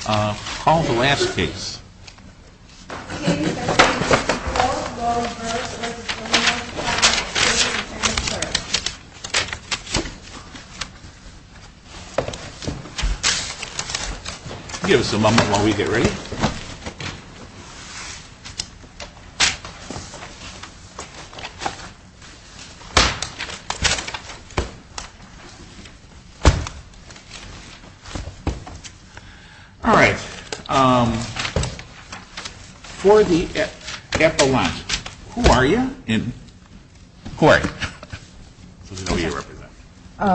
Call the last case. Give us a moment while we get ready. All right. For the epilogue, who are you? Who are you?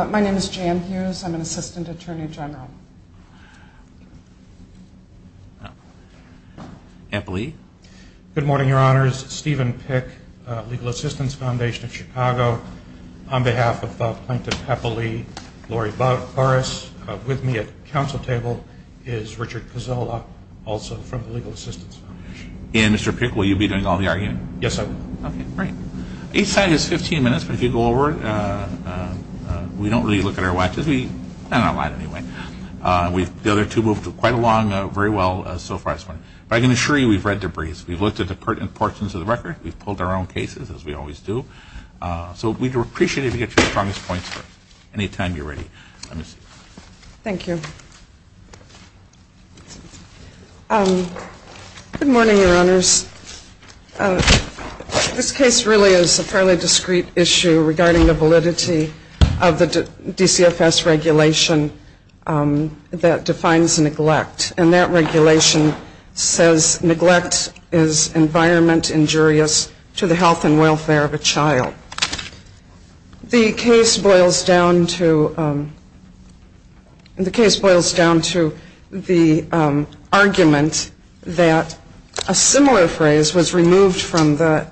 My name is Jan Hughes. I'm an Assistant Attorney General. Epilee. Good morning, Your Honors. Stephen Pick, Legal Assistance Foundation of Chicago. On behalf of Plankton Epilee Laurie Burris, with me at the council table is Richard Cozzola, also from the Legal Assistance Foundation. And Mr. Pick, will you be doing all the arguing? Yes, I will. Okay, great. Each side has 15 minutes, but if you go over, we don't really look at our watches. We've done a lot anyway. The other two moved quite along very well so far this morning. But I can assure you we've read the briefs. We've looked at the pertinent portions of the record. We've pulled our own cases, as we always do. So we'd appreciate it if you get your strongest points any time you're ready. Thank you. Good morning, Your Honors. This case really is a fairly discreet issue regarding the validity of the DCFS regulation that defines neglect. And that regulation says neglect is environment injurious to the health and welfare of a child. The case boils down to the argument that a similar phrase was removed from the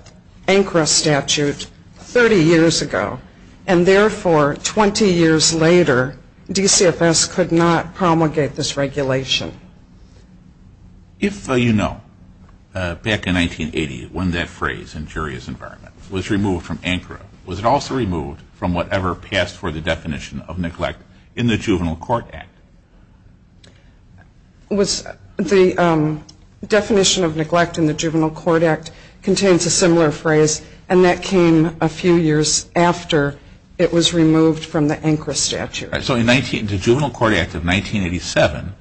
ANCRA statute 30 years ago. And therefore, 20 years later, DCFS could not promulgate this regulation. If you know, back in 1980, when that phrase, injurious environment, was removed from ANCRA, was it also removed from whatever passed for the definition of neglect in the Juvenile Court Act? The definition of neglect in the Juvenile Court Act contains a similar phrase, and that came a few years after it was removed from the ANCRA statute. So in the Juvenile Court Act of 1987,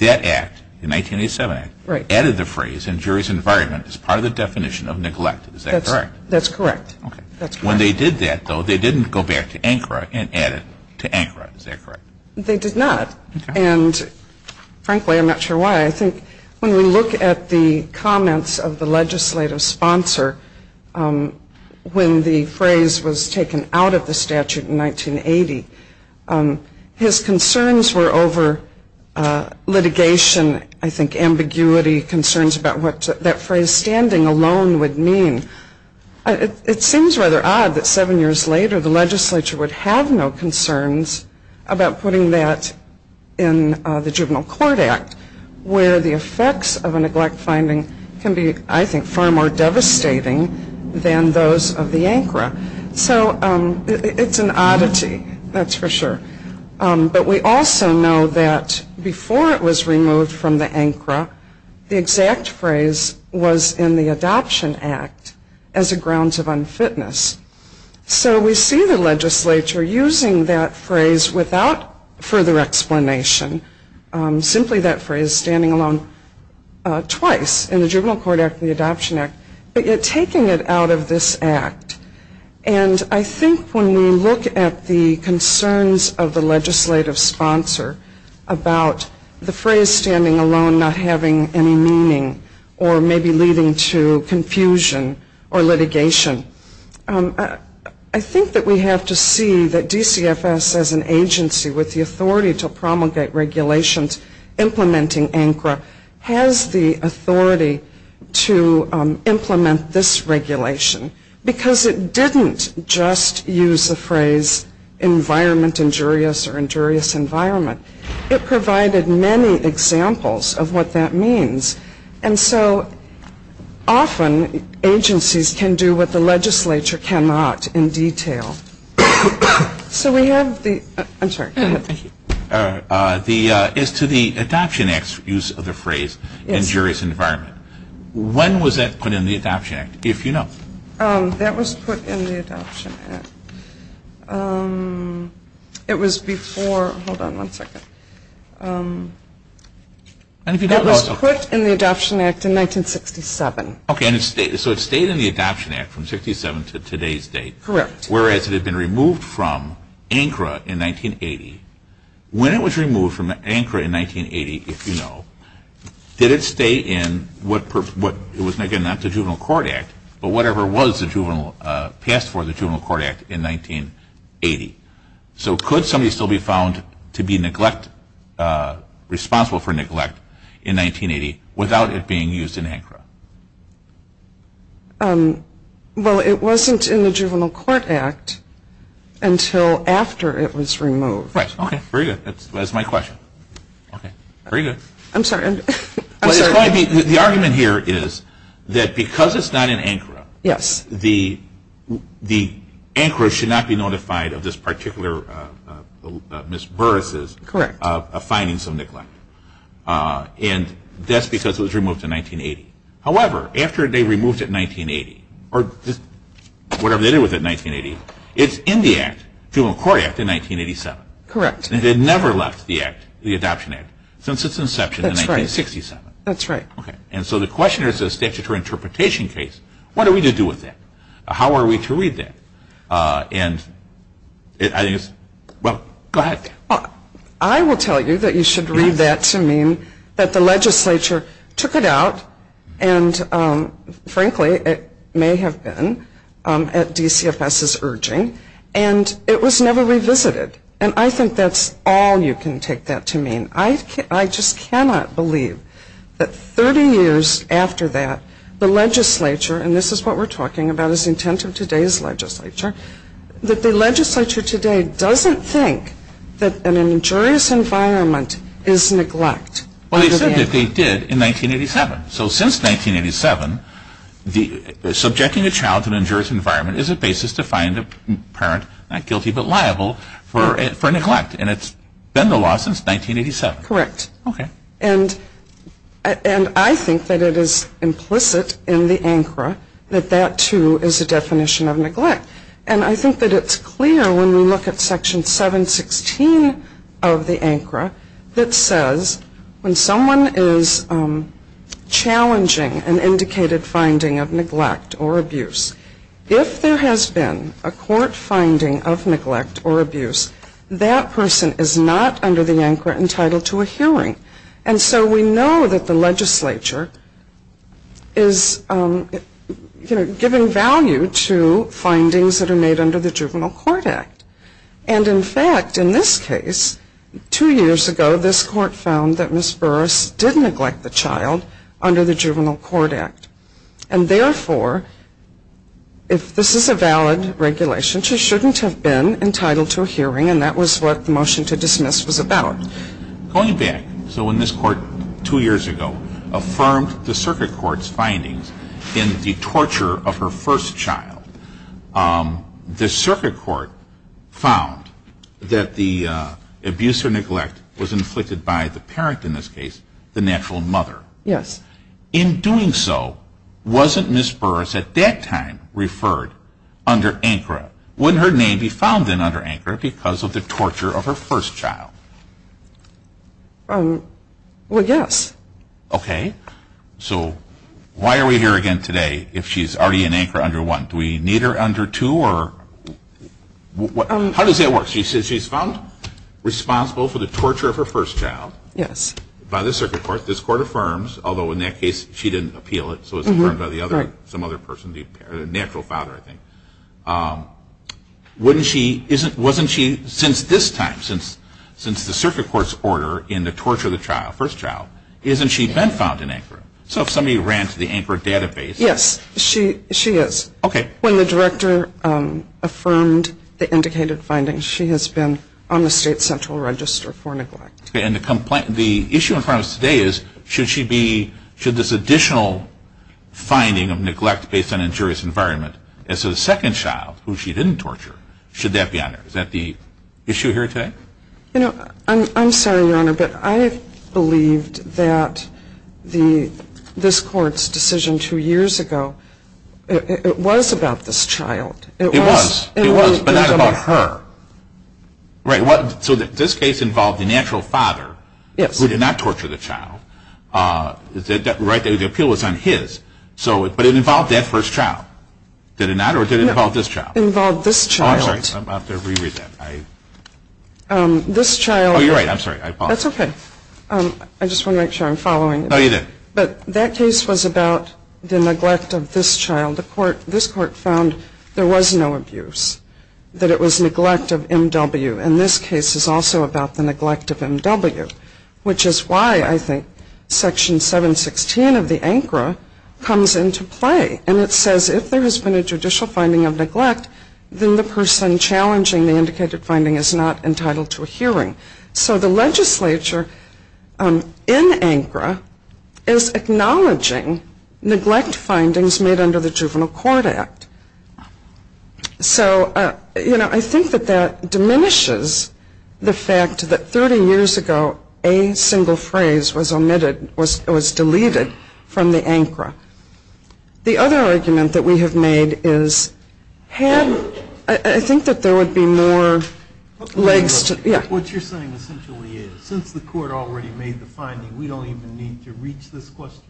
that act, the 1987 act, added the phrase injurious environment as part of the definition of neglect. Is that correct? That's correct. When they did that, though, they didn't go back to ANCRA and add it to ANCRA. Is that correct? They did not. Okay. And frankly, I'm not sure why. I think when we look at the comments of the legislative sponsor when the phrase was taken out of the statute in 1980, his concerns were over litigation, I think ambiguity, concerns about what that phrase standing alone would mean. It seems rather odd that seven years later the legislature would have no concerns about putting that in the Juvenile Court Act, where the effects of a neglect finding can be, I think, far more devastating than those of the ANCRA. So it's an oddity, that's for sure. But we also know that before it was removed from the ANCRA, the exact phrase was in the Adoption Act as a grounds of unfitness. So we see the legislature using that phrase without further explanation, simply that phrase standing alone twice, in the Juvenile Court Act and the Adoption Act, but yet taking it out of this act. And I think when we look at the concerns of the legislative sponsor about the phrase standing alone not having any meaning or maybe leading to confusion or litigation, I think that we have to see that DCFS as an agency with the authority to promulgate regulations implementing ANCRA has the authority to implement this regulation. Because it didn't just use the phrase environment injurious or injurious environment. It provided many examples of what that means. And so often agencies can do what the legislature cannot in detail. So we have the, I'm sorry, go ahead. The, as to the Adoption Act's use of the phrase injurious environment, when was that put in the Adoption Act, if you know? That was put in the Adoption Act. It was before, hold on one second. That was put in the Adoption Act in 1967. Okay, so it stayed in the Adoption Act from 67 to today's date. Correct. Whereas it had been removed from ANCRA in 1980. When it was removed from ANCRA in 1980, if you know, did it stay in what it was, again, not the Juvenile Court Act, but whatever was passed for the Juvenile Court Act in 1980. So could somebody still be found to be responsible for neglect in 1980 without it being used in ANCRA? Well, it wasn't in the Juvenile Court Act until after it was removed. Right. Okay. Very good. That's my question. Okay. Very good. I'm sorry. I'm sorry. The argument here is that because it's not in ANCRA. Yes. The ANCRA should not be notified of this particular, Ms. Burris's. Correct. And that's because it was removed in 1980. However, after they removed it in 1980, or just whatever they did with it in 1980, it's in the act, Juvenile Court Act in 1987. Correct. And it never left the Act, the Adoption Act, since its inception in 1967. That's right. That's right. Okay. And so the question is a statutory interpretation case. What are we to do with that? How are we to read that? And I think it's, well, go ahead. I will tell you that you should read that to mean that the legislature took it out, and frankly it may have been at DCFS's urging, and it was never revisited. And I think that's all you can take that to mean. I just cannot believe that 30 years after that, the legislature, and this is what we're talking about is the intent of today's legislature, that the legislature today doesn't think that an injurious environment is neglect. Well, they said that they did in 1987. So since 1987, subjecting a child to an injurious environment is a basis to find a parent not guilty but liable for neglect. And it's been the law since 1987. Correct. Okay. And I think that it is implicit in the ANCRA that that, too, is a definition of neglect. And I think that it's clear when we look at Section 716 of the ANCRA that says when someone is challenging an indicated finding of neglect or abuse, if there has been a court finding of neglect or abuse, that person is not under the ANCRA entitled to a hearing. And so we know that the legislature is giving value to findings that are made under the Juvenile Court Act. And, in fact, in this case, two years ago this court found that Ms. Burris did neglect the child under the Juvenile Court Act. And, therefore, if this is a valid regulation, she shouldn't have been entitled to a hearing, and that was what the motion to dismiss was about. Going back, so when this court two years ago affirmed the circuit court's findings in the torture of her first child, the circuit court found that the abuse or neglect was inflicted by the parent in this case, the natural mother. Yes. In doing so, wasn't Ms. Burris at that time referred under ANCRA? Wouldn't her name be found then under ANCRA because of the torture of her first child? Well, yes. Okay. So why are we here again today if she's already in ANCRA under 1? Do we need her under 2? How does that work? She says she's found responsible for the torture of her first child. Yes. By the circuit court, this court affirms, although in that case she didn't appeal it, so it's affirmed by some other person, the natural father, I think. Wasn't she since this time, since the circuit court's order in the torture of the first child, isn't she been found in ANCRA? So if somebody ran to the ANCRA database. Yes, she is. Okay. When the director affirmed the indicated findings, she has been on the state central register for neglect. And the issue in front of us today is should she be, should this additional finding of neglect based on injurious environment as a second child, who she didn't torture, should that be on her? Is that the issue here today? You know, I'm sorry, Your Honor, but I believed that this court's decision two years ago, it was about this child. It was, but not about her. Right. So this case involved the natural father. Yes. Who did not torture the child. The appeal was on his. But it involved that first child. Did it not? Or did it involve this child? It involved this child. Oh, I'm sorry. I'm about to reread that. This child. Oh, you're right. I'm sorry. That's okay. I just want to make sure I'm following. No, you're good. But that case was about the neglect of this child. This court found there was no abuse, that it was neglect of M.W. And this case is also about the neglect of M.W., which is why I think Section 716 of the ANCRA comes into play. And it says if there has been a judicial finding of neglect, then the person challenging the indicated finding is not entitled to a hearing. So the legislature in ANCRA is acknowledging neglect findings made under the Juvenile Court Act. So, you know, I think that that diminishes the fact that 30 years ago a single phrase was omitted, was deleted from the ANCRA. The other argument that we have made is had, I think that there would be more What you're saying essentially is since the court already made the finding, we don't even need to reach this question.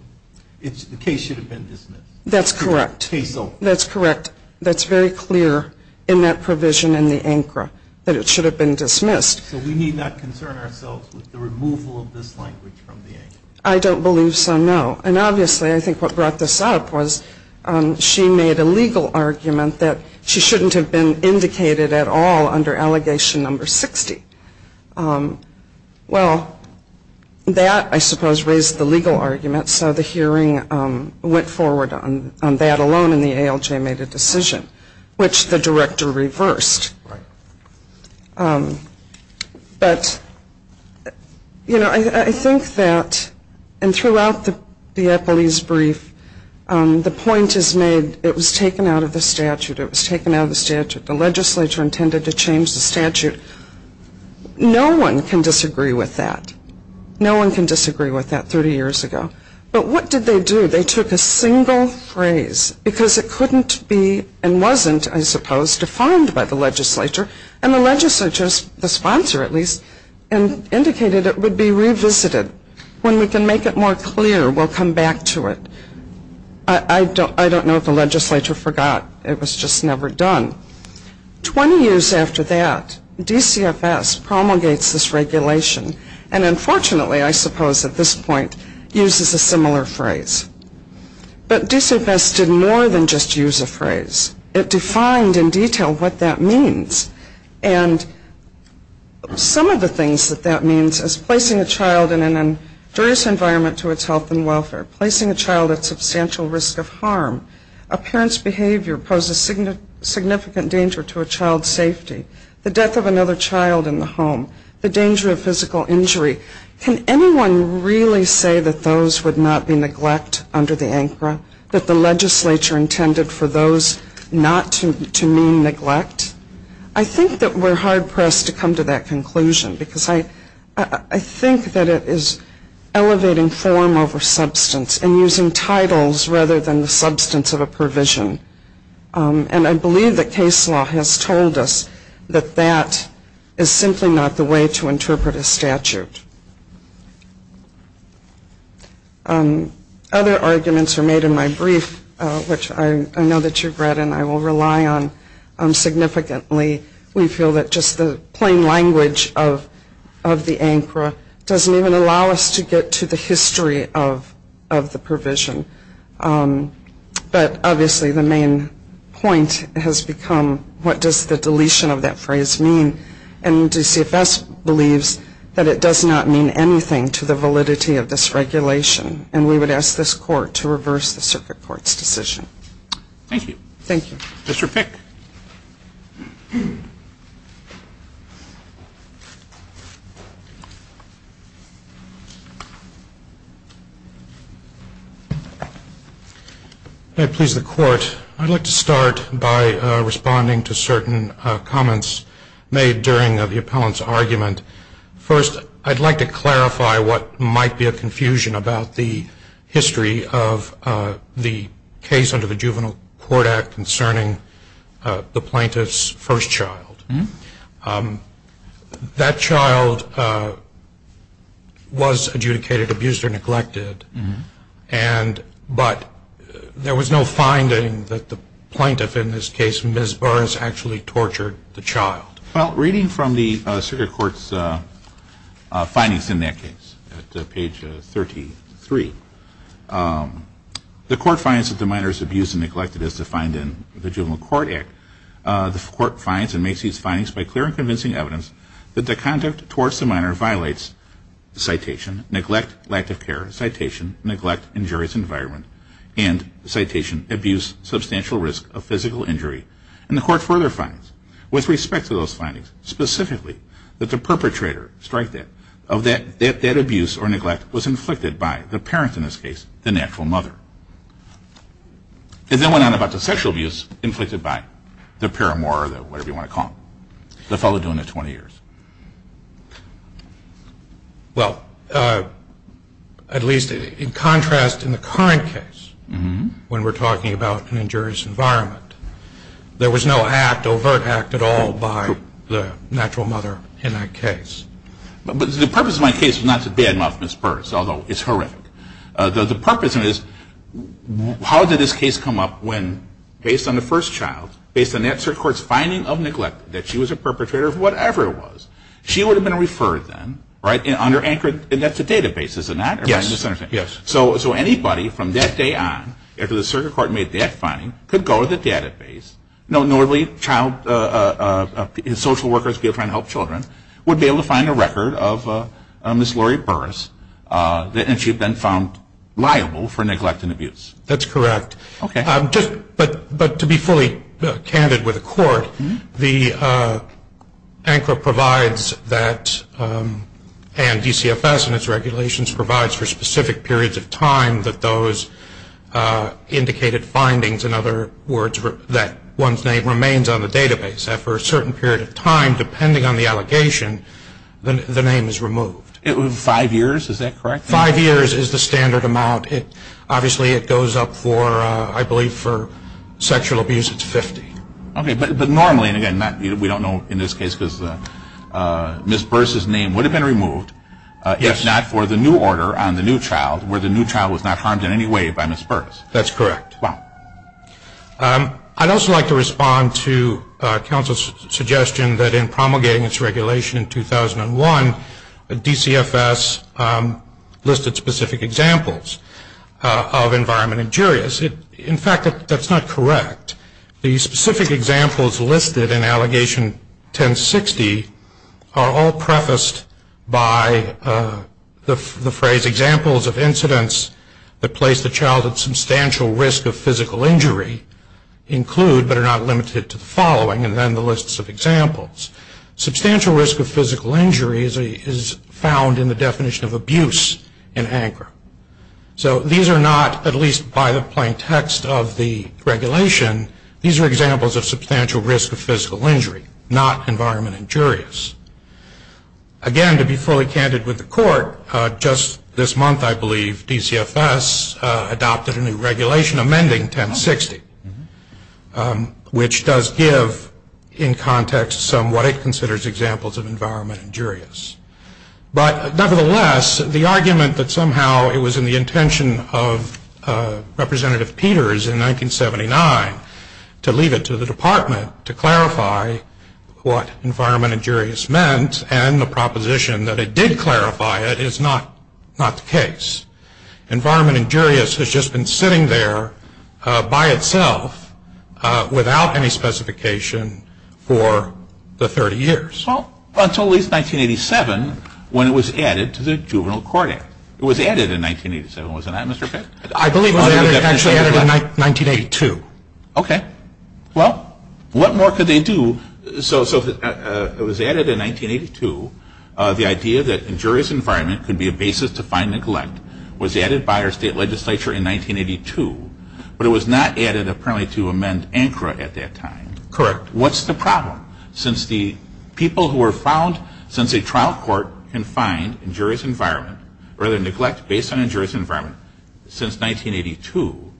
The case should have been dismissed. That's correct. Case over. That's correct. That's very clear in that provision in the ANCRA that it should have been dismissed. So we need not concern ourselves with the removal of this language from the ANCRA. I don't believe so, no. And obviously I think what brought this up was she made a legal argument that she shouldn't have been indicated at all under allegation number 60. Well, that, I suppose, raised the legal argument. So the hearing went forward on that alone and the ALJ made a decision, which the director reversed. Right. But, you know, I think that and throughout the Eppley's brief, the point is made, it was taken out of the statute. It was taken out of the statute. The legislature intended to change the statute. No one can disagree with that. No one can disagree with that 30 years ago. But what did they do? They took a single phrase because it couldn't be and wasn't, I suppose, defined by the legislature. And the legislature, the sponsor at least, indicated it would be revisited. When we can make it more clear, we'll come back to it. I don't know if the legislature forgot. It was just never done. Twenty years after that, DCFS promulgates this regulation and unfortunately, I suppose at this point, uses a similar phrase. But DCFS did more than just use a phrase. It defined in detail what that means. And some of the things that that means is placing a child in an injurious environment to its health and welfare, placing a child at substantial risk of harm, a parent's behavior poses significant danger to a child's safety, the death of another child in the home, the danger of physical injury. Can anyone really say that those would not be neglect under the ANCRA, that the legislature intended for those not to mean neglect? I think that we're hard-pressed to come to that conclusion because I think that it is elevating form over substance and using titles rather than the substance of a provision. And I believe that case law has told us that that is simply not the way to interpret a statute. Other arguments are made in my brief, which I know that you've read and I will rely on significantly. We feel that just the plain language of the ANCRA doesn't even allow us to get to the history of the provision. But obviously the main point has become, what does the deletion of that phrase mean? And DCFS believes that it does not mean anything to the validity of this regulation. And we would ask this Court to reverse the Circuit Court's decision. Thank you. Thank you. Mr. Pick. May it please the Court, I'd like to start by responding to certain comments made during the appellant's argument. First, I'd like to clarify what might be a confusion about the history of the case under the Juvenile Court Act concerning the plaintiff's first child. That child was adjudicated abused or neglected, but there was no finding that the plaintiff in this case, Well, reading from the Circuit Court's findings in that case, at page 33, the Court finds that the minor is abused and neglected as defined in the Juvenile Court Act. The Court finds and makes these findings by clear and convincing evidence that the conduct towards the minor violates citation, neglect, lack of care, citation, neglect, injurious environment, and citation, abuse, substantial risk of physical injury. And the Court further finds, with respect to those findings, specifically that the perpetrator, strike that, of that abuse or neglect was inflicted by the parent, in this case, the natural mother. It then went on about the sexual abuse inflicted by the paramour, or whatever you want to call him, the fellow doing the 20 years. Well, at least in contrast in the current case, when we're talking about an injurious environment, there was no overt act at all by the natural mother in that case. But the purpose of my case is not to badmouth Ms. Burrs, although it's horrific. The purpose of it is how did this case come up when, based on the first child, based on that Circuit Court's finding of neglect, that she was a perpetrator of whatever it was, she would have been referred then, right, and under anchored, and that's a database, isn't that? Yes. So anybody from that day on, after the Circuit Court made that finding, could go to the database, normally social workers trying to help children, would be able to find a record of Ms. Laurie Burrs, and she'd been found liable for neglect and abuse. That's correct. Okay. But to be fully candid with the court, the ANCRA provides that, and DCFS and its regulations, provides for specific periods of time that those indicated findings, in other words, that one's name remains on the database, that for a certain period of time, depending on the allegation, the name is removed. Five years, is that correct? Five years is the standard amount. Obviously it goes up for, I believe, for sexual abuse, it's 50. Okay, but normally, and again, we don't know in this case, because Ms. Burrs' name would have been removed, if not for the new order on the new child, where the new child was not harmed in any way by Ms. Burrs. That's correct. Wow. I'd also like to respond to counsel's suggestion that in promulgating its regulation in 2001, DCFS listed specific examples of environment injurious. In fact, that's not correct. The specific examples listed in Allegation 1060 are all prefaced by the phrase, examples of incidents that place the child at substantial risk of physical injury include, but are not limited to the following, and then the list of examples. Substantial risk of physical injury is found in the definition of abuse in ANCRA. So these are not, at least by the plain text of the regulation, these are examples of substantial risk of physical injury, not environment injurious. Again, to be fully candid with the court, just this month, I believe, DCFS adopted a new regulation amending 1060, which does give in context some what it considers examples of environment injurious. But nevertheless, the argument that somehow it was in the intention of Representative Peters in 1979 to leave it to the department to clarify what environment injurious meant and the proposition that it did clarify it is not the case. Environment injurious has just been sitting there by itself without any specification for the 30 years. Well, until at least 1987 when it was added to the Juvenile Court Act. It was added in 1987, was it not, Mr. Pitt? I believe it was actually added in 1982. Okay. Well, what more could they do? So it was added in 1982. The idea that injurious environment could be a basis to find neglect was added by our state legislature in 1982, but it was not added apparently to amend ANCRA at that time. Correct. Correct. What's the problem? Since the people who were found since a trial court can find injurious environment or the neglect based on injurious environment since 1982,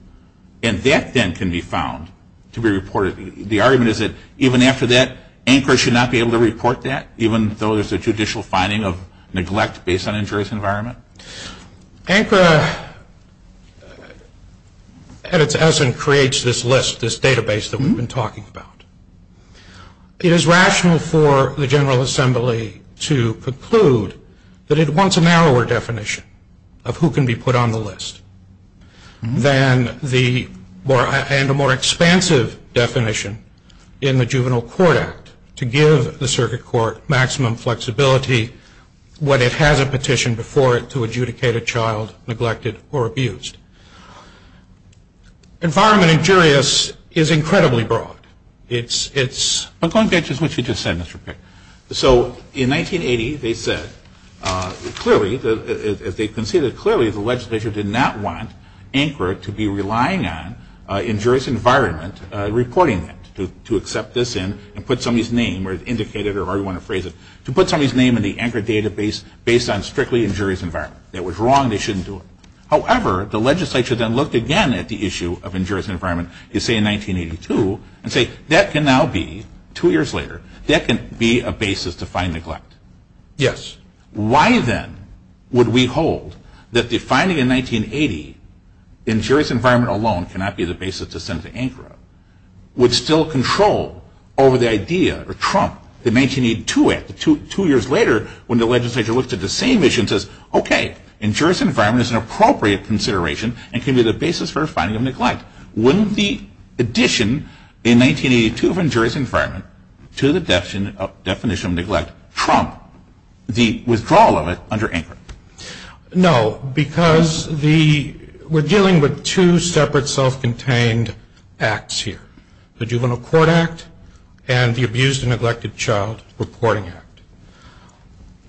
and that then can be found to be reported. The argument is that even after that, ANCRA should not be able to report that, even though there's a judicial finding of neglect based on injurious environment? ANCRA at its essence creates this list, this database that we've been talking about. It is rational for the General Assembly to conclude that it wants a narrower definition of who can be put on the list and a more expansive definition in the Juvenile Court Act to give the circuit court maximum flexibility when it has a petition before it to adjudicate a child neglected or abused. Environment injurious is incredibly broad. I'm going back to what you just said, Mr. Pick. So in 1980, they said clearly, as they conceded clearly, the legislature did not want ANCRA to be relying on injurious environment reporting it, to accept this in and put somebody's name or indicate it or however you want to phrase it. To put somebody's name in the ANCRA database based on strictly injurious environment. That was wrong. They shouldn't do it. However, the legislature then looked again at the issue of injurious environment, you say in 1982, and say that can now be, two years later, that can be a basis to find neglect. Yes. Why then would we hold that defining in 1980 injurious environment alone cannot be the basis to send to ANCRA, would still control over the idea or trump the 1982 act, two years later when the legislature looked at the same issue and says, okay, injurious environment is an appropriate consideration and can be the basis for finding neglect. Wouldn't the addition in 1982 of injurious environment to the definition of neglect trump the withdrawal of it under ANCRA? No, because we're dealing with two separate self-contained acts here. The Juvenile Court Act and the Abused and Neglected Child Reporting Act.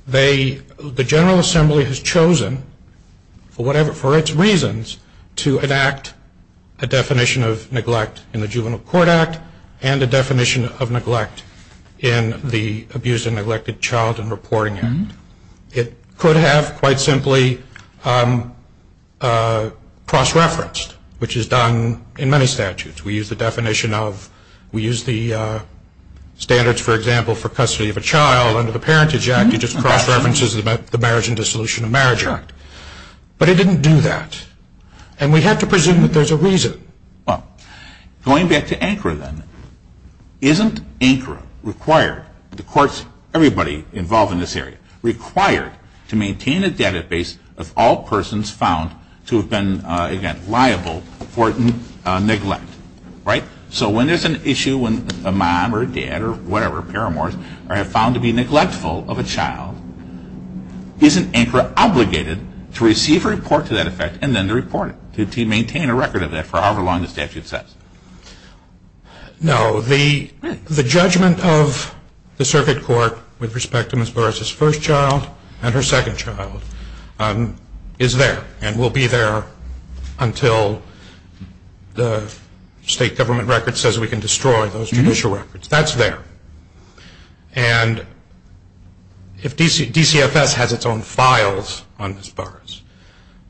The General Assembly has chosen, for its reasons, to enact a definition of neglect in the Juvenile Court Act and a definition of neglect in the Abused and Neglected Child Reporting Act. It could have quite simply cross-referenced, which is done in many statutes. We use the definition of, we use the standards, for example, for custody of a child under the Parentage Act. It just cross-references the Marriage and Dissolution of Marriage Act. But it didn't do that. And we have to presume that there's a reason. Going back to ANCRA then, isn't ANCRA required, the courts, everybody involved in this area, required to maintain a database of all persons found to have been, again, liable for neglect, right? So when there's an issue when a mom or a dad or whatever, paramours, are found to be neglectful of a child, isn't ANCRA obligated to receive a report to that effect and then to report it, to maintain a record of that for however long the statute says? No. The judgment of the circuit court with respect to Ms. Burris's first child and her second child is there and will be there until the state government record says we can destroy those judicial records. That's there. And DCFS has its own files on Ms. Burris.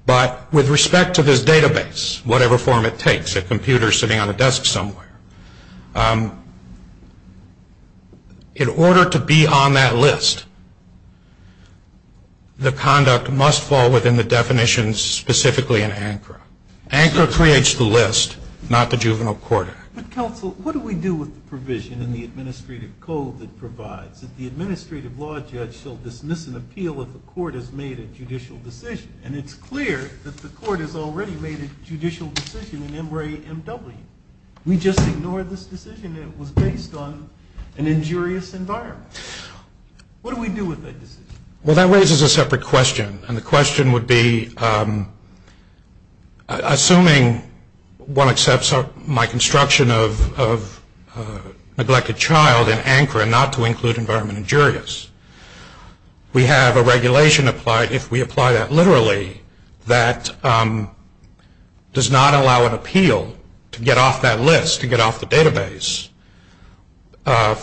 But with respect to this database, whatever form it takes, a computer sitting on a desk somewhere, in order to be on that list, the conduct must fall within the definitions specifically in ANCRA. ANCRA creates the list, not the Juvenile Court Act. But, counsel, what do we do with the provision in the administrative code that provides that the administrative law judge shall dismiss an appeal if the court has made a judicial decision? And it's clear that the court has already made a judicial decision in MRA-MW. We just ignored this decision. It was based on an injurious environment. What do we do with that decision? Well, that raises a separate question, and the question would be, assuming one accepts my construction of neglect a child in ANCRA and not to include environment injurious, we have a regulation applied, if we apply that literally, that does not allow an appeal to get off that list, to get off the database,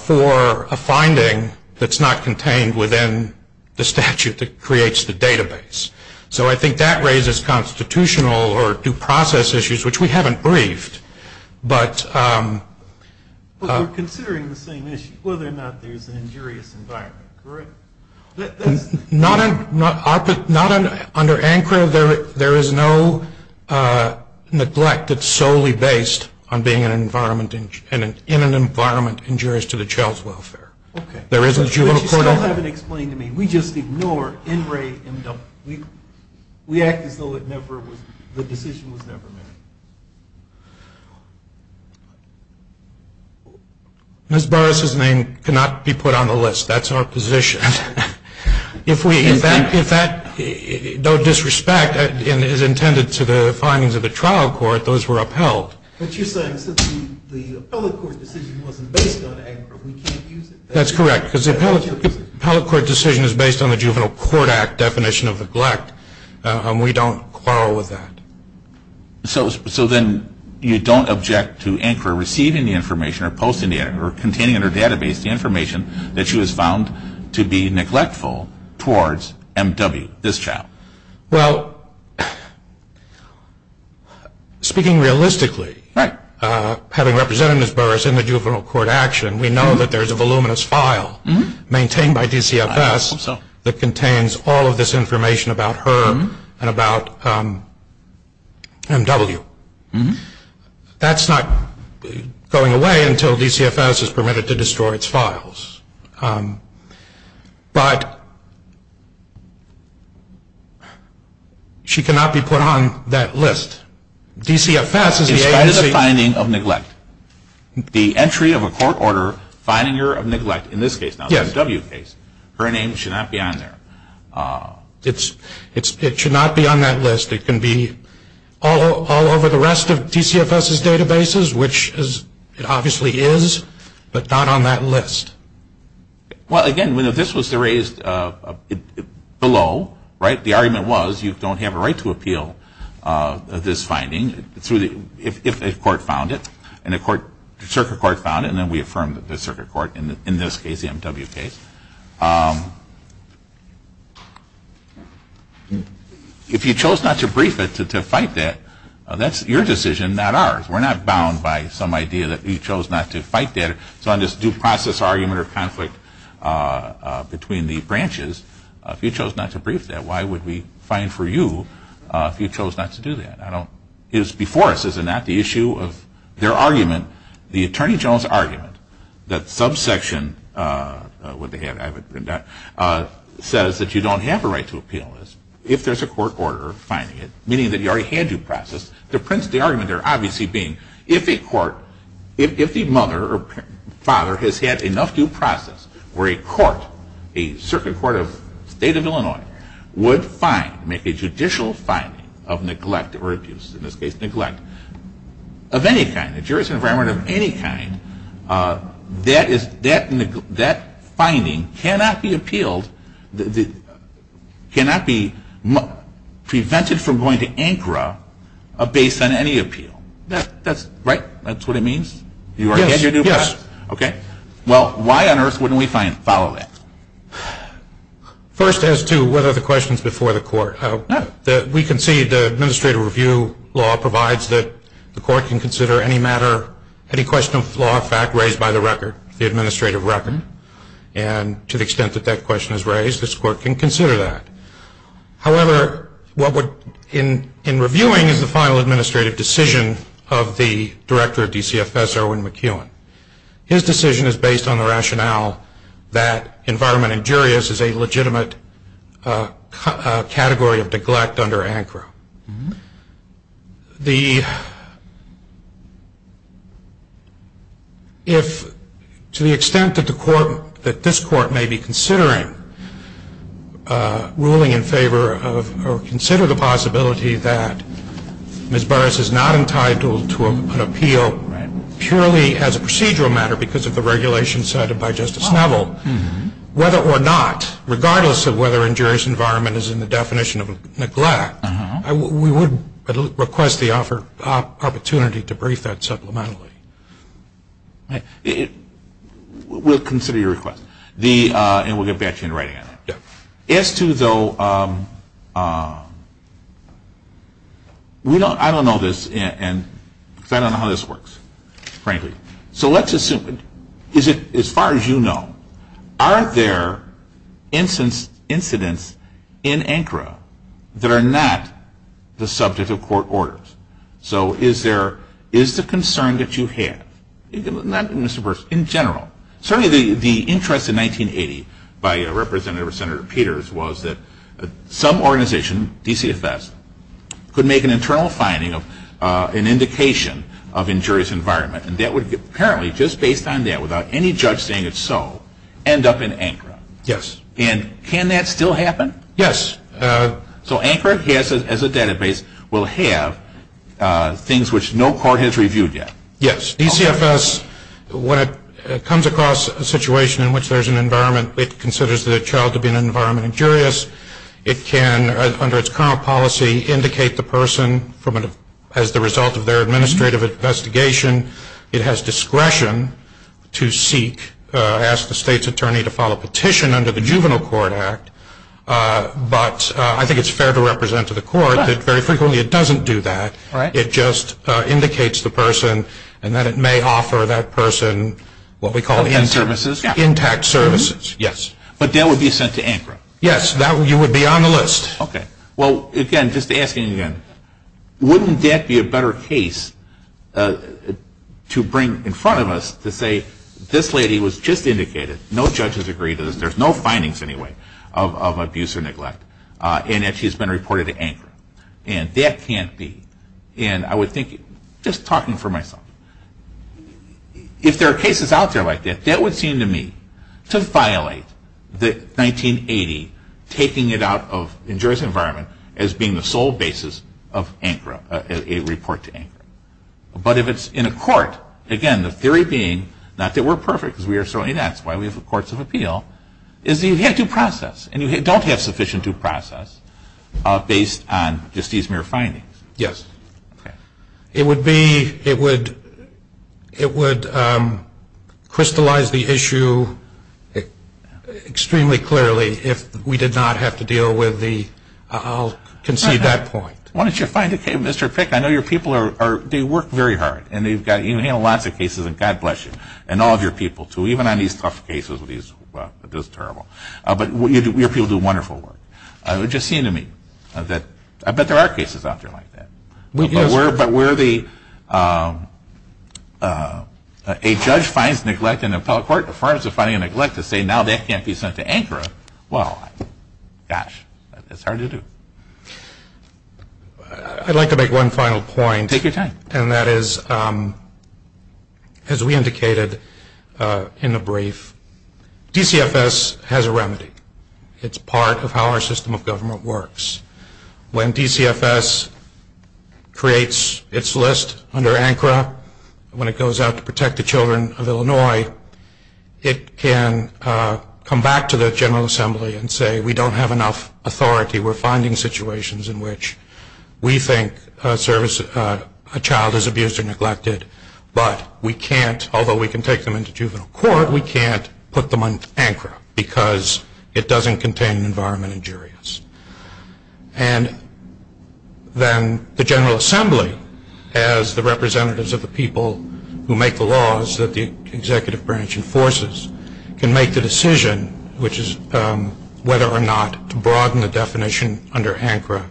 for a finding that's not contained within the statute that creates the database. So I think that raises constitutional or due process issues, which we haven't briefed. But we're considering the same issue, whether or not there's an injurious environment, correct? Not under ANCRA. There is no neglect that's solely based on being in an environment injurious to the child's welfare. Okay. But you still haven't explained to me. We just ignore MRA-MW. We act as though the decision was never made. Ms. Burris's name cannot be put on the list. That's our position. If that, though disrespect, is intended to the findings of the trial court, those were upheld. But you're saying since the appellate court decision wasn't based on ANCRA, we can't use it? That's correct. Because the appellate court decision is based on the Juvenile Court Act definition of neglect, and we don't quarrel with that. So then you don't object to ANCRA receiving the information or containing in her database the information that she was found to be neglectful towards MW, this child? Well, speaking realistically, having represented Ms. Burris in the Juvenile Court action, we know that there's a voluminous file maintained by DCFS that contains all of this information about her and about MW. That's not going away until DCFS is permitted to destroy its files. But she cannot be put on that list. DCFS is the agency. The entry of a court order fining her of neglect in this case, the MW case, her name should not be on there. It should not be on that list. It can be all over the rest of DCFS's databases, which it obviously is, but not on that list. Well, again, if this was raised below, right, the argument was you don't have a right to appeal this finding. If a court found it, and a circuit court found it, and then we affirmed the circuit court in this case, the MW case. If you chose not to brief it to fight that, that's your decision, not ours. We're not bound by some idea that you chose not to fight that. So on this due process argument or conflict between the branches, if you chose not to brief that, why would we fine for you if you chose not to do that? It is before us, is it not, the issue of their argument, the Attorney General's argument, that subsection says that you don't have a right to appeal this if there's a court order fining it, meaning that you already had due process. The argument there obviously being if a court, if the mother or father has had enough due process where a court, a circuit court of the state of Illinois, would fine, make a judicial fining of neglect or abuse, in this case neglect of any kind, a jury's environment of any kind, that finding cannot be appealed, cannot be prevented from going to ANCRA based on any appeal. That's, right, that's what it means? Yes, yes. Okay. Well, why on earth wouldn't we fine follow that? First as to whether the question's before the court. We can see the administrative review law provides that the court can consider any matter, any question of law of fact raised by the record, the administrative record, and to the extent that that question is raised, this court can consider that. However, what would, in reviewing is the final administrative decision of the director of DCFS, Erwin McEwen. His decision is based on the rationale that environment in juries is a legitimate category of neglect under ANCRA. The, if, to the extent that the court, that this court may be considering ruling in favor of, or consider the possibility that Ms. Burris is not entitled to an appeal, purely as a procedural matter because of the regulation cited by Justice Neville, whether or not, regardless of whether injurious environment is in the definition of neglect, we would request the opportunity to brief that supplementally. We'll consider your request, and we'll get back to you in writing on it. Yes. As to, though, we don't, I don't know this, because I don't know how this works, frankly. So let's assume, as far as you know, are there incidents in ANCRA that are not the subject of court orders? So is there, is the concern that you have, not Ms. Burris, in general, certainly the interest in 1980 by Representative Senator Peters was that some organization, DCFS, could make an internal finding of an indication of injurious environment. And that would, apparently, just based on that, without any judge saying it's so, end up in ANCRA. Yes. And can that still happen? Yes. So ANCRA, as a database, will have things which no court has reviewed yet. Yes. DCFS, when it comes across a situation in which there's an environment it considers the child to be an environment injurious, it can, under its current policy, indicate the person as the result of their administrative investigation. It has discretion to seek, ask the state's attorney to file a petition under the Juvenile Court Act. But I think it's fair to represent to the court that very frequently it doesn't do that. Right. It just indicates the person and that it may offer that person what we call intact services. Yes. But that would be sent to ANCRA. Yes. You would be on the list. Okay. Well, again, just asking again, wouldn't that be a better case to bring in front of us to say, this lady was just indicated, no judges agreed to this, there's no findings, anyway, of abuse or neglect, and that she's been reported to ANCRA. And that can't be. And I would think, just talking for myself, if there are cases out there like that, that would seem to me to violate the 1980 taking it out of injurious environment as being the sole basis of ANCRA, a report to ANCRA. But if it's in a court, again, the theory being, not that we're perfect, because we are certainly not, that's why we have courts of appeal, is that you have due process. And you don't have sufficient due process based on just these mere findings. Yes. It would be, it would crystallize the issue extremely clearly if we did not have to deal with the, I'll concede that point. Why don't you find a case, Mr. Pick? I know your people are, they work very hard. And they've got, you handle lots of cases, and God bless you, and all of your people, too, even on these tough cases with these, well, this is terrible. But your people do wonderful work. It would just seem to me that, I bet there are cases out there like that. Yes. But where the, a judge finds neglect in an appellate court, the firms are finding neglect to say now that can't be sent to ANCRA, well, gosh, it's hard to do. I'd like to make one final point. Take your time. And that is, as we indicated in the brief, DCFS has a remedy. It's part of how our system of government works. When DCFS creates its list under ANCRA, when it goes out to protect the children of Illinois, it can come back to the General Assembly and say we don't have enough authority. We're finding situations in which we think a child is abused or neglected, but we can't, although we can take them into juvenile court, we can't put them on ANCRA because it doesn't contain an environment injurious. And then the General Assembly, as the representatives of the people who make the laws that the executive branch enforces, can make the decision, which is whether or not to broaden the definition under ANCRA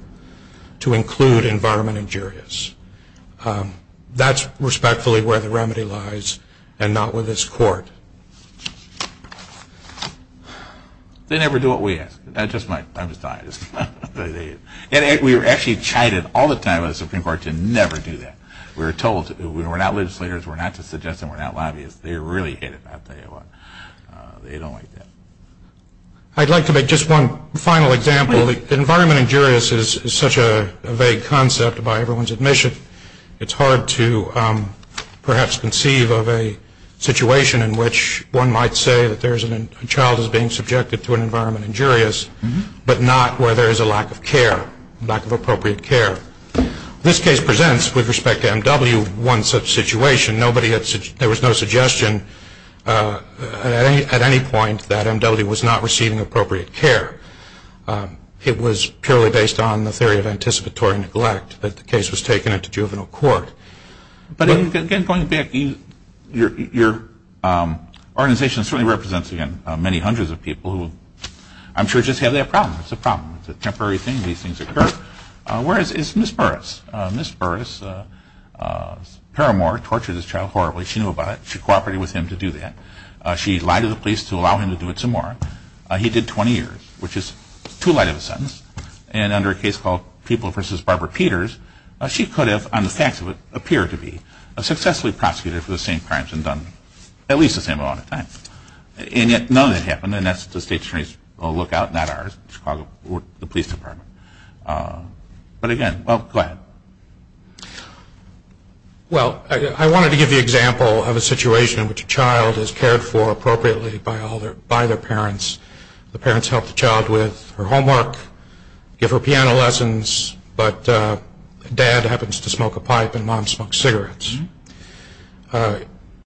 to include environment injurious. That's respectfully where the remedy lies and not with this court. They never do what we ask. That's just my thought. We were actually chided all the time by the Supreme Court to never do that. We were told we're not legislators, we're not to suggest that we're not lobbyists. They really hate it, I'll tell you what. They don't like that. I'd like to make just one final example. Environment injurious is such a vague concept by everyone's admission. It's hard to perhaps conceive of a situation in which one might say that a child is being subjected to an environment injurious, but not where there is a lack of care, lack of appropriate care. This case presents, with respect to MW, one such situation. There was no suggestion at any point that MW was not receiving appropriate care. It was purely based on the theory of anticipatory neglect that the case was taken into juvenile court. But again, going back, your organization certainly represents, again, many hundreds of people who I'm sure just have that problem. It's a problem. It's a temporary thing. These things occur. Whereas, it's Ms. Burris. Ms. Burris, paramore, tortured this child horribly. She knew about it. She cooperated with him to do that. She lied to the police to allow him to do it some more. He did 20 years, which is too light of a sentence. And under a case called People v. Barbara Peters, she could have, on the facts of it, appeared to be successfully prosecuted for the same crimes and done at least the same amount of time. And yet none of that happened, and that's the state attorney's lookout, not ours. The police department. But again, well, go ahead. Well, I wanted to give the example of a situation in which a child is cared for appropriately by their parents. The parents help the child with her homework, give her piano lessons, but dad happens to smoke a pipe and mom smokes cigarettes.